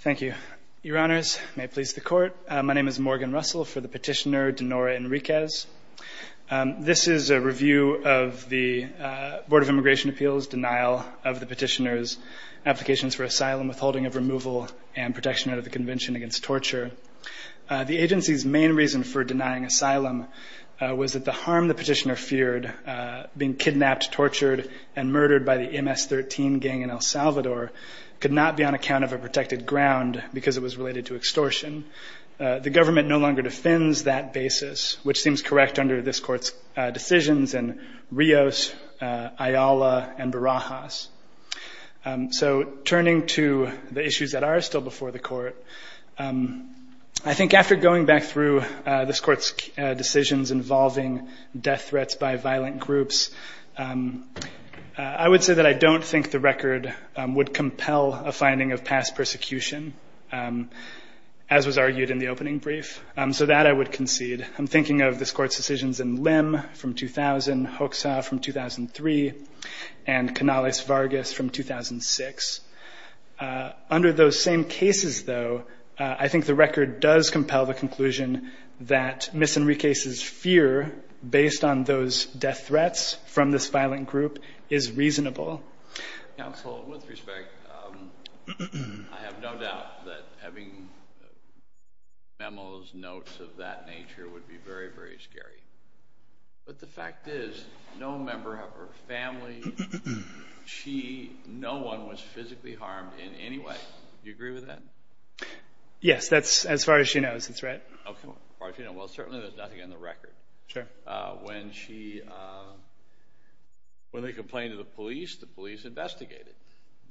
Thank you. Your honors, may it please the court. My name is Morgan Russell for the petitioner Denora Enriquez. This is a review of the Board of Immigration Appeals denial of the petitioner's applications for asylum, withholding of removal and protection out of the convention against torture. The agency's main reason for denying asylum was that the harm the petitioner feared, being kidnapped, tortured and murdered by the MS-13 gang in El Salvador, could not be on account of a protected ground because it was related to extortion. The government no longer defends that basis, which seems correct under this court's decisions in Rios, Ayala and Barajas. So turning to the issues that are still before the court, I think after going back through this court's decisions involving death threats by violent groups, I would say that I don't think the record would compel a finding of past persecution, as was argued in the opening brief. So that I would concede. I'm thinking of this court's decisions in Lim from 2000, Hoxha from 2003 and Canales Vargas from 2006. Under those same cases, though, I think the record does compel the conclusion that Ms. Enriquez's fear, based on those death threats from this violent group, is reasonable. Counsel, with respect, I have no doubt that having memos, notes of that nature would be very, very scary. But the fact is, no member of her family, she, no one was physically harmed in any way. Do you agree with that? Yes, that's as far as she knows, that's right. Okay, as far as you know. Well, certainly there's nothing in the record. Sure. When she, when they complained to the police, the police investigated.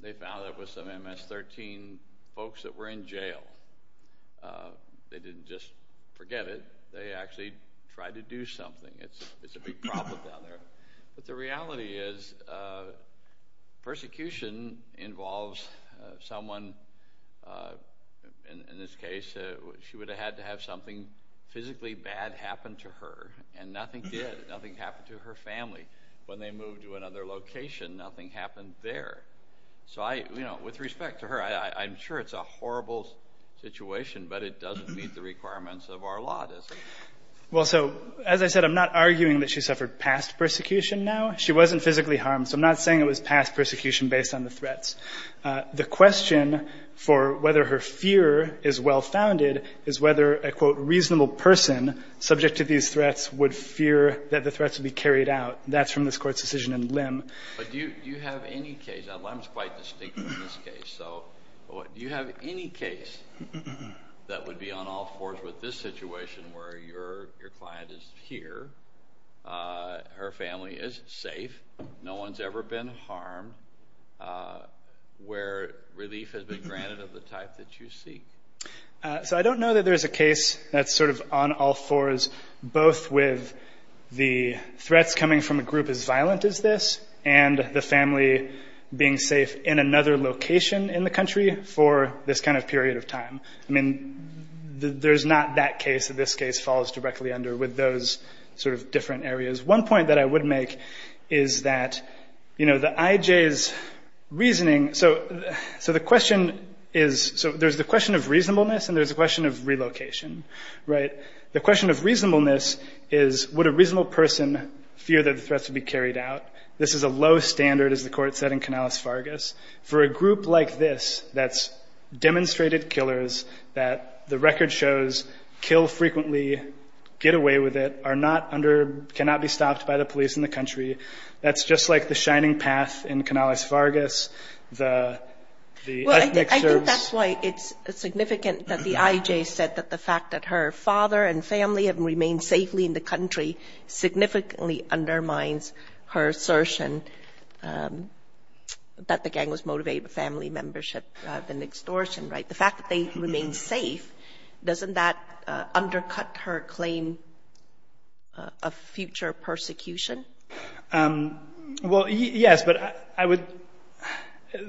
They found there was some MS-13 folks that were in jail. They didn't just forget it, they actually tried to do something. It's a big problem down there. But the reality is, persecution involves someone, in this case, she would have had to have something physically bad happen to her. And nothing did. Nothing happened to her family. When they moved to another location, nothing happened there. So I, you know, with respect to her, I'm sure it's a horrible situation, but it doesn't meet the requirements of our law, does it? Well, so, as I said, I'm not arguing that she suffered past persecution now. She wasn't physically harmed, so I'm not saying it was past persecution based on the threats. The question for whether her fear is well-founded is whether a, quote, reasonable person subject to these threats would fear that the threats would be carried out. That's from this Court's decision in Lim. But do you have any case, and Lim's quite distinctive in this case, so do you have any case that would be on all fours with this situation, where your client is here, her family is safe, no one's ever been harmed, where relief has been granted of the type that you seek? So I don't know that there's a case that's sort of on all fours, both with the threats coming from a group as violent as this and the family being safe in another location in the country for this kind of period of time. I mean, there's not that case that this case falls directly under with those sort of different areas. One point that I would make is that, you know, the IJ's reasoning. So the question is, so there's the question of reasonableness and there's the question of relocation, right? The question of reasonableness is would a reasonable person fear that the threats would be carried out? This is a low standard, as the Court said, in Canales-Fargas. For a group like this that's demonstrated killers, that the record shows kill frequently, get away with it, are not under, cannot be stopped by the police in the country, that's just like the shining path in Canales-Fargas. Well, I think that's why it's significant that the IJ said that the fact that her father and family have remained safely in the country significantly undermines her assertion that the gang was motivated by family membership and extortion, right? The fact that they remain safe, doesn't that undercut her claim of future persecution? Well, yes, but I would,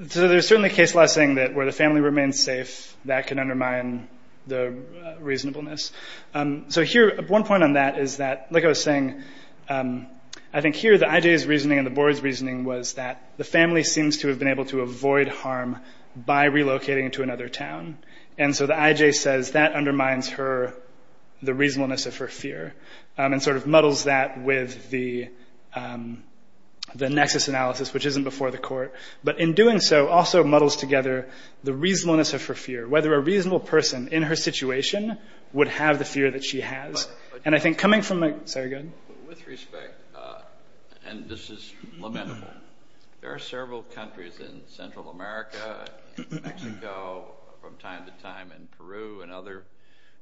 so there's certainly a case law saying that where the family remains safe, that can undermine the reasonableness. So here, one point on that is that, like I was saying, I think here the IJ's reasoning and the Board's reasoning was that the family seems to have been able to avoid harm by relocating to another town. And so the IJ says that undermines her, the reasonableness of her fear, and sort of muddles that with the nexus analysis, which isn't before the Court. But in doing so, also muddles together the reasonableness of her fear, whether a reasonable person in her situation would have the fear that she has. With respect, and this is lamentable, there are several countries in Central America, Mexico, from time to time in Peru and other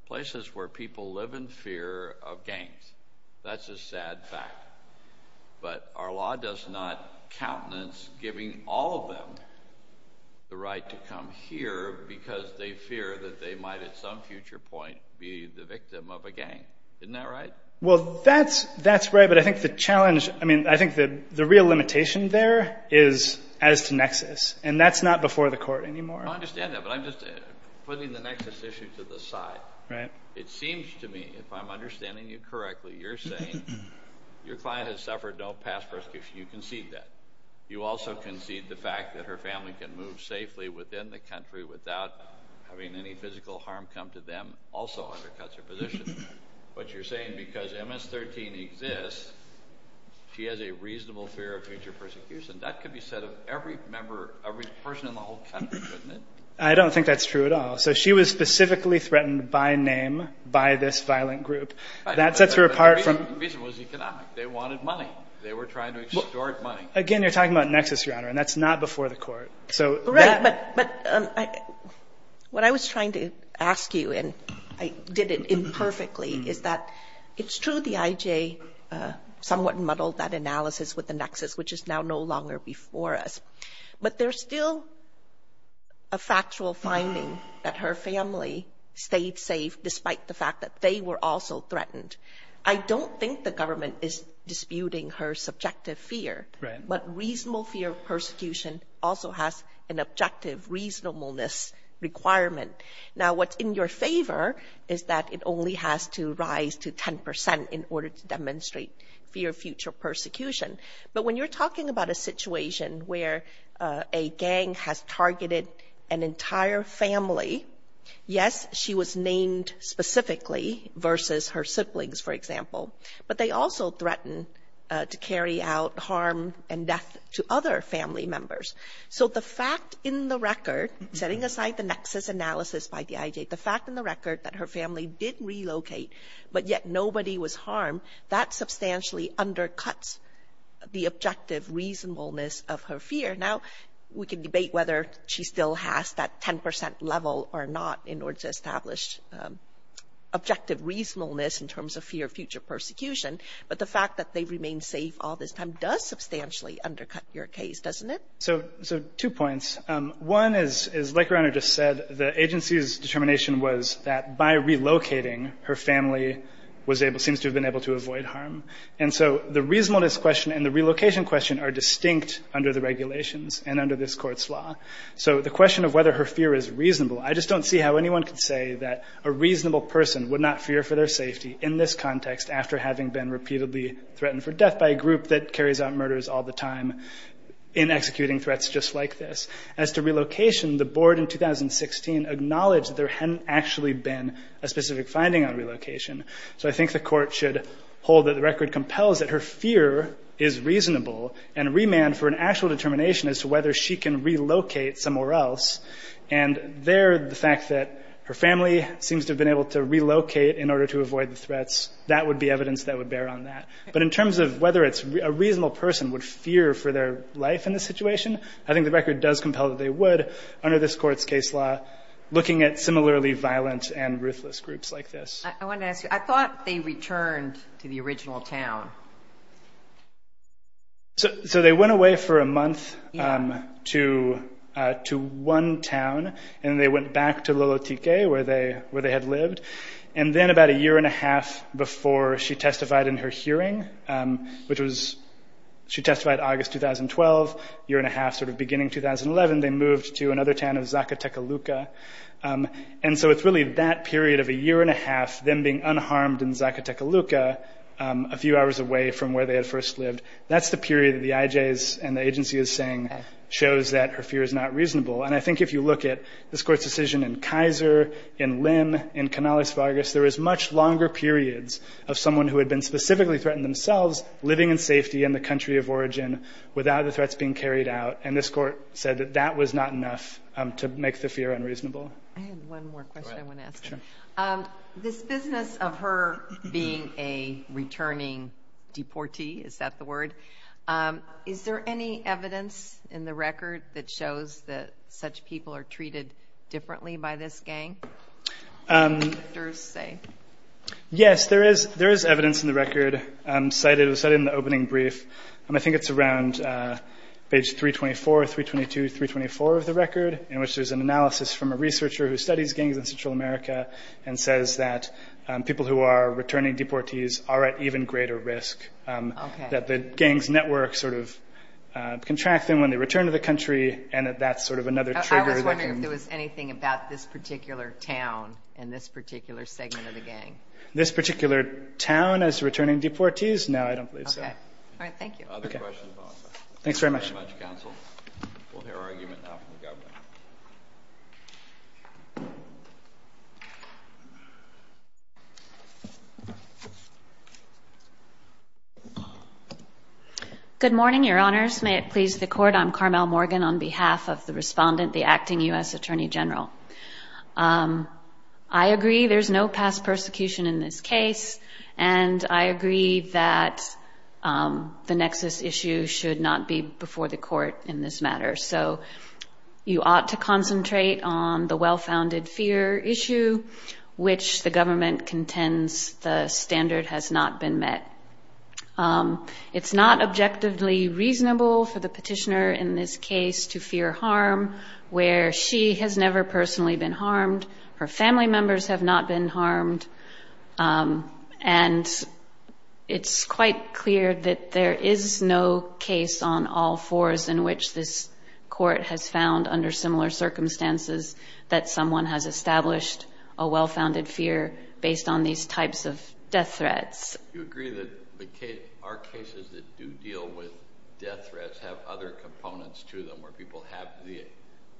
places where people live in fear of gangs. That's a sad fact. But our law does not countenance giving all of them the right to come here because they fear that they might at some future point be the victim of a gang. Isn't that right? Well, that's right, but I think the challenge, I mean, I think the real limitation there is as to nexus, and that's not before the Court anymore. I understand that, but I'm just putting the nexus issue to the side. Right. It seems to me, if I'm understanding you correctly, you're saying your client has suffered no past persecution. You concede that. You also concede the fact that her family can move safely within the country without having any physical harm come to them also under cuts or position. But you're saying because MS-13 exists, she has a reasonable fear of future persecution. That could be said of every member, every person in the whole country, couldn't it? I don't think that's true at all. So she was specifically threatened by name, by this violent group. That sets her apart from — The reason was economic. They wanted money. They were trying to extort money. Again, you're talking about nexus, Your Honor, and that's not before the Court. Correct. But what I was trying to ask you, and I did it imperfectly, is that it's true the IJ somewhat muddled that analysis with the nexus, which is now no longer before us. But there's still a factual finding that her family stayed safe despite the fact that they were also threatened. I don't think the government is disputing her subjective fear. Right. But reasonable fear of persecution also has an objective reasonableness requirement. Now, what's in your favor is that it only has to rise to 10 percent in order to demonstrate fear of future persecution. But when you're talking about a situation where a gang has targeted an entire family, yes, she was named specifically versus her siblings, for example, but they also threatened to carry out harm and death to other family members. So the fact in the record, setting aside the nexus analysis by the IJ, the fact in the record that her family did relocate but yet nobody was harmed, that substantially undercuts the objective reasonableness of her fear. Now, we can debate whether she still has that 10 percent level or not in order to establish objective reasonableness in terms of fear of future persecution. But the fact that they remain safe all this time does substantially undercut your case, doesn't it? So two points. One is, like your Honor just said, the agency's determination was that by relocating, her family was able to seems to have been able to avoid harm. And so the reasonableness question and the relocation question are distinct under the regulations and under this court's law. So the question of whether her fear is reasonable, I just don't see how anyone could say that a reasonable person would not fear for their safety in this context after having been repeatedly threatened for death by a group that carries out murders all the time in executing threats just like this. As to relocation, the board in 2016 acknowledged that there hadn't actually been a specific finding on relocation. So I think the court should hold that the record compels that her fear is reasonable and remand for an actual determination as to whether she can relocate somewhere else. And there, the fact that her family seems to have been able to relocate in order to avoid the threats, that would be evidence that would bear on that. But in terms of whether it's a reasonable person would fear for their life in this situation, I think the record does compel that they would, under this court's case law, looking at similarly violent and ruthless groups like this. I want to ask you, I thought they returned to the original town. So they went away for a month to one town, and they went back to Lolotike, where they had lived. And then about a year and a half before she testified in her hearing, which was, she testified August 2012, year and a half sort of beginning 2011, they moved to another town of Zakatakaluka. And so it's really that period of a year and a half, them being unharmed in Zakatakaluka, a few hours away from where they had first lived, that's the period that the IJs and the agency is saying shows that her fear is not reasonable. And I think if you look at this court's decision in Kaiser, in Lim, in Kanalis Vargas, there was much longer periods of someone who had been specifically threatened themselves living in safety in the country of origin without the threats being carried out. And this court said that that was not enough to make the fear unreasonable. I have one more question I want to ask you. Sure. This business of her being a returning deportee, is that the word? Is there any evidence in the record that shows that such people are treated differently by this gang? Yes, there is evidence in the record cited in the opening brief. I think it's around page 324, 322, 324 of the record, in which there's an analysis from a researcher who studies gangs in Central America and says that people who are returning deportees are at even greater risk, that the gangs' networks sort of contract them when they return to the country and that that's sort of another trigger. I was wondering if there was anything about this particular town and this particular segment of the gang. This particular town as returning deportees? No, I don't believe so. Okay. All right, thank you. Other questions on this? Thanks very much. Thank you very much, Counsel. We'll hear our argument now from the Governor. Good morning, Your Honors. May it please the Court, I'm Carmel Morgan on behalf of the respondent, the acting U.S. Attorney General. I agree there's no past persecution in this case, and I agree that the nexus issue should not be before the Court in this matter. So you ought to concentrate on the well-founded fear issue, which the government contends the standard has not been met. It's not objectively reasonable for the petitioner in this case to fear harm, where she has never personally been harmed, her family members have not been harmed, and it's quite clear that there is no case on all fours in which this Court has found, under similar circumstances, that someone has established a well-founded fear based on these types of death threats. Do you agree that our cases that do deal with death threats have other components to them, where people have the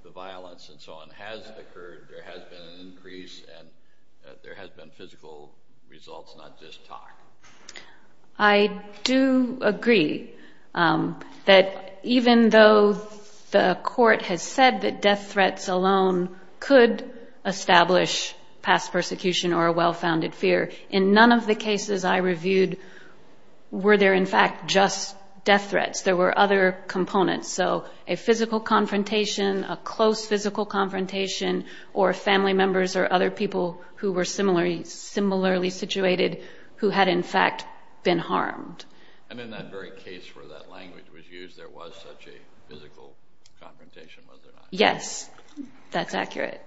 violence and so on, has occurred, there has been an increase, and there has been physical results, not just talk? I do agree that even though the Court has said that death threats alone could establish past persecution or a well-founded fear, in none of the cases I reviewed were there, in fact, just death threats. There were other components, so a physical confrontation, a close physical confrontation, or family members or other people who were similarly situated who had, in fact, been harmed. And in that very case where that language was used, there was such a physical confrontation, was there not? Yes, that's accurate.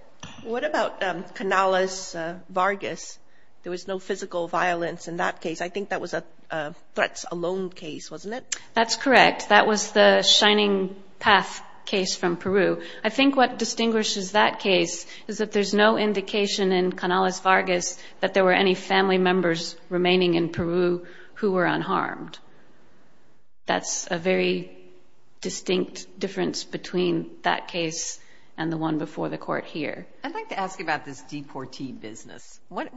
What about Canales-Vargas? There was no physical violence in that case. I think that was a threats alone case, wasn't it? That's correct. That was the Shining Path case from Peru. I think what distinguishes that case is that there's no indication in Canales-Vargas that there were any family members remaining in Peru who were unharmed. That's a very distinct difference between that case and the one before the Court here. I'd like to ask you about this deportee business. What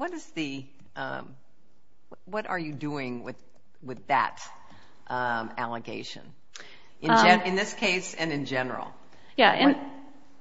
are you doing with that allegation in this case and in general?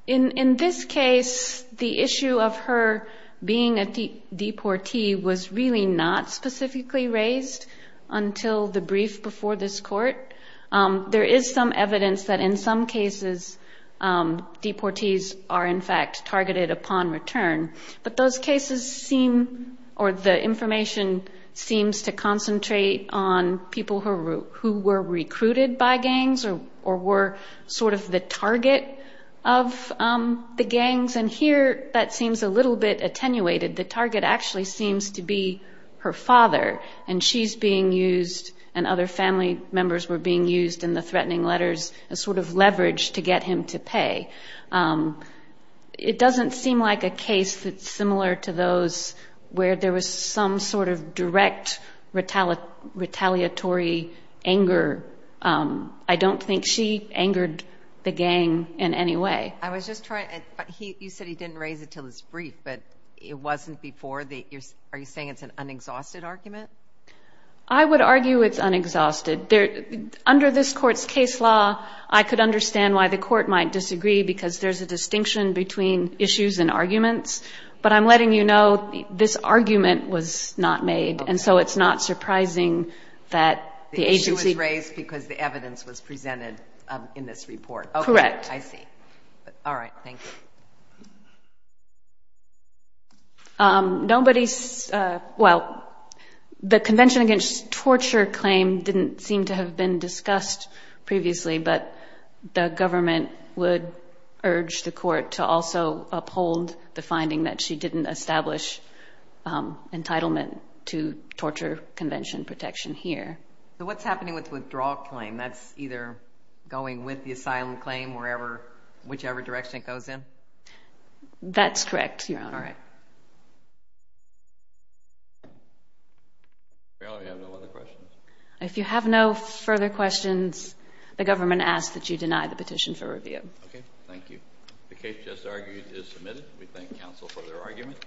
In this case, the issue of her being a deportee was really not specifically raised until the brief before this Court. There is some evidence that in some cases deportees are, in fact, targeted upon return, but those cases seem or the information seems to concentrate on people who were recruited by gangs or were sort of the target of the gangs, and here that seems a little bit attenuated. The target actually seems to be her father, and she's being used and other family members were being used in the threatening letters as sort of leverage to get him to pay. It doesn't seem like a case that's similar to those where there was some sort of direct retaliatory anger. I don't think she angered the gang in any way. You said he didn't raise it until his brief, but it wasn't before. Are you saying it's an unexhausted argument? I would argue it's unexhausted. Under this Court's case law, I could understand why the Court might disagree because there's a distinction between issues and arguments, but I'm letting you know this argument was not made, and so it's not surprising that the agency The issue was raised because the evidence was presented in this report. Correct. I see. All right. Thank you. Nobody's, well, the Convention Against Torture claim didn't seem to have been discussed previously, but the government would urge the Court to also uphold the finding that she didn't establish entitlement to torture convention protection here. So what's happening with the withdrawal claim? That's either going with the asylum claim, whichever direction it goes in? That's correct, Your Honor. All right. I have no other questions. If you have no further questions, the government asks that you deny the petition for review. Okay. Thank you. The case just argued is submitted. We thank counsel for their argument.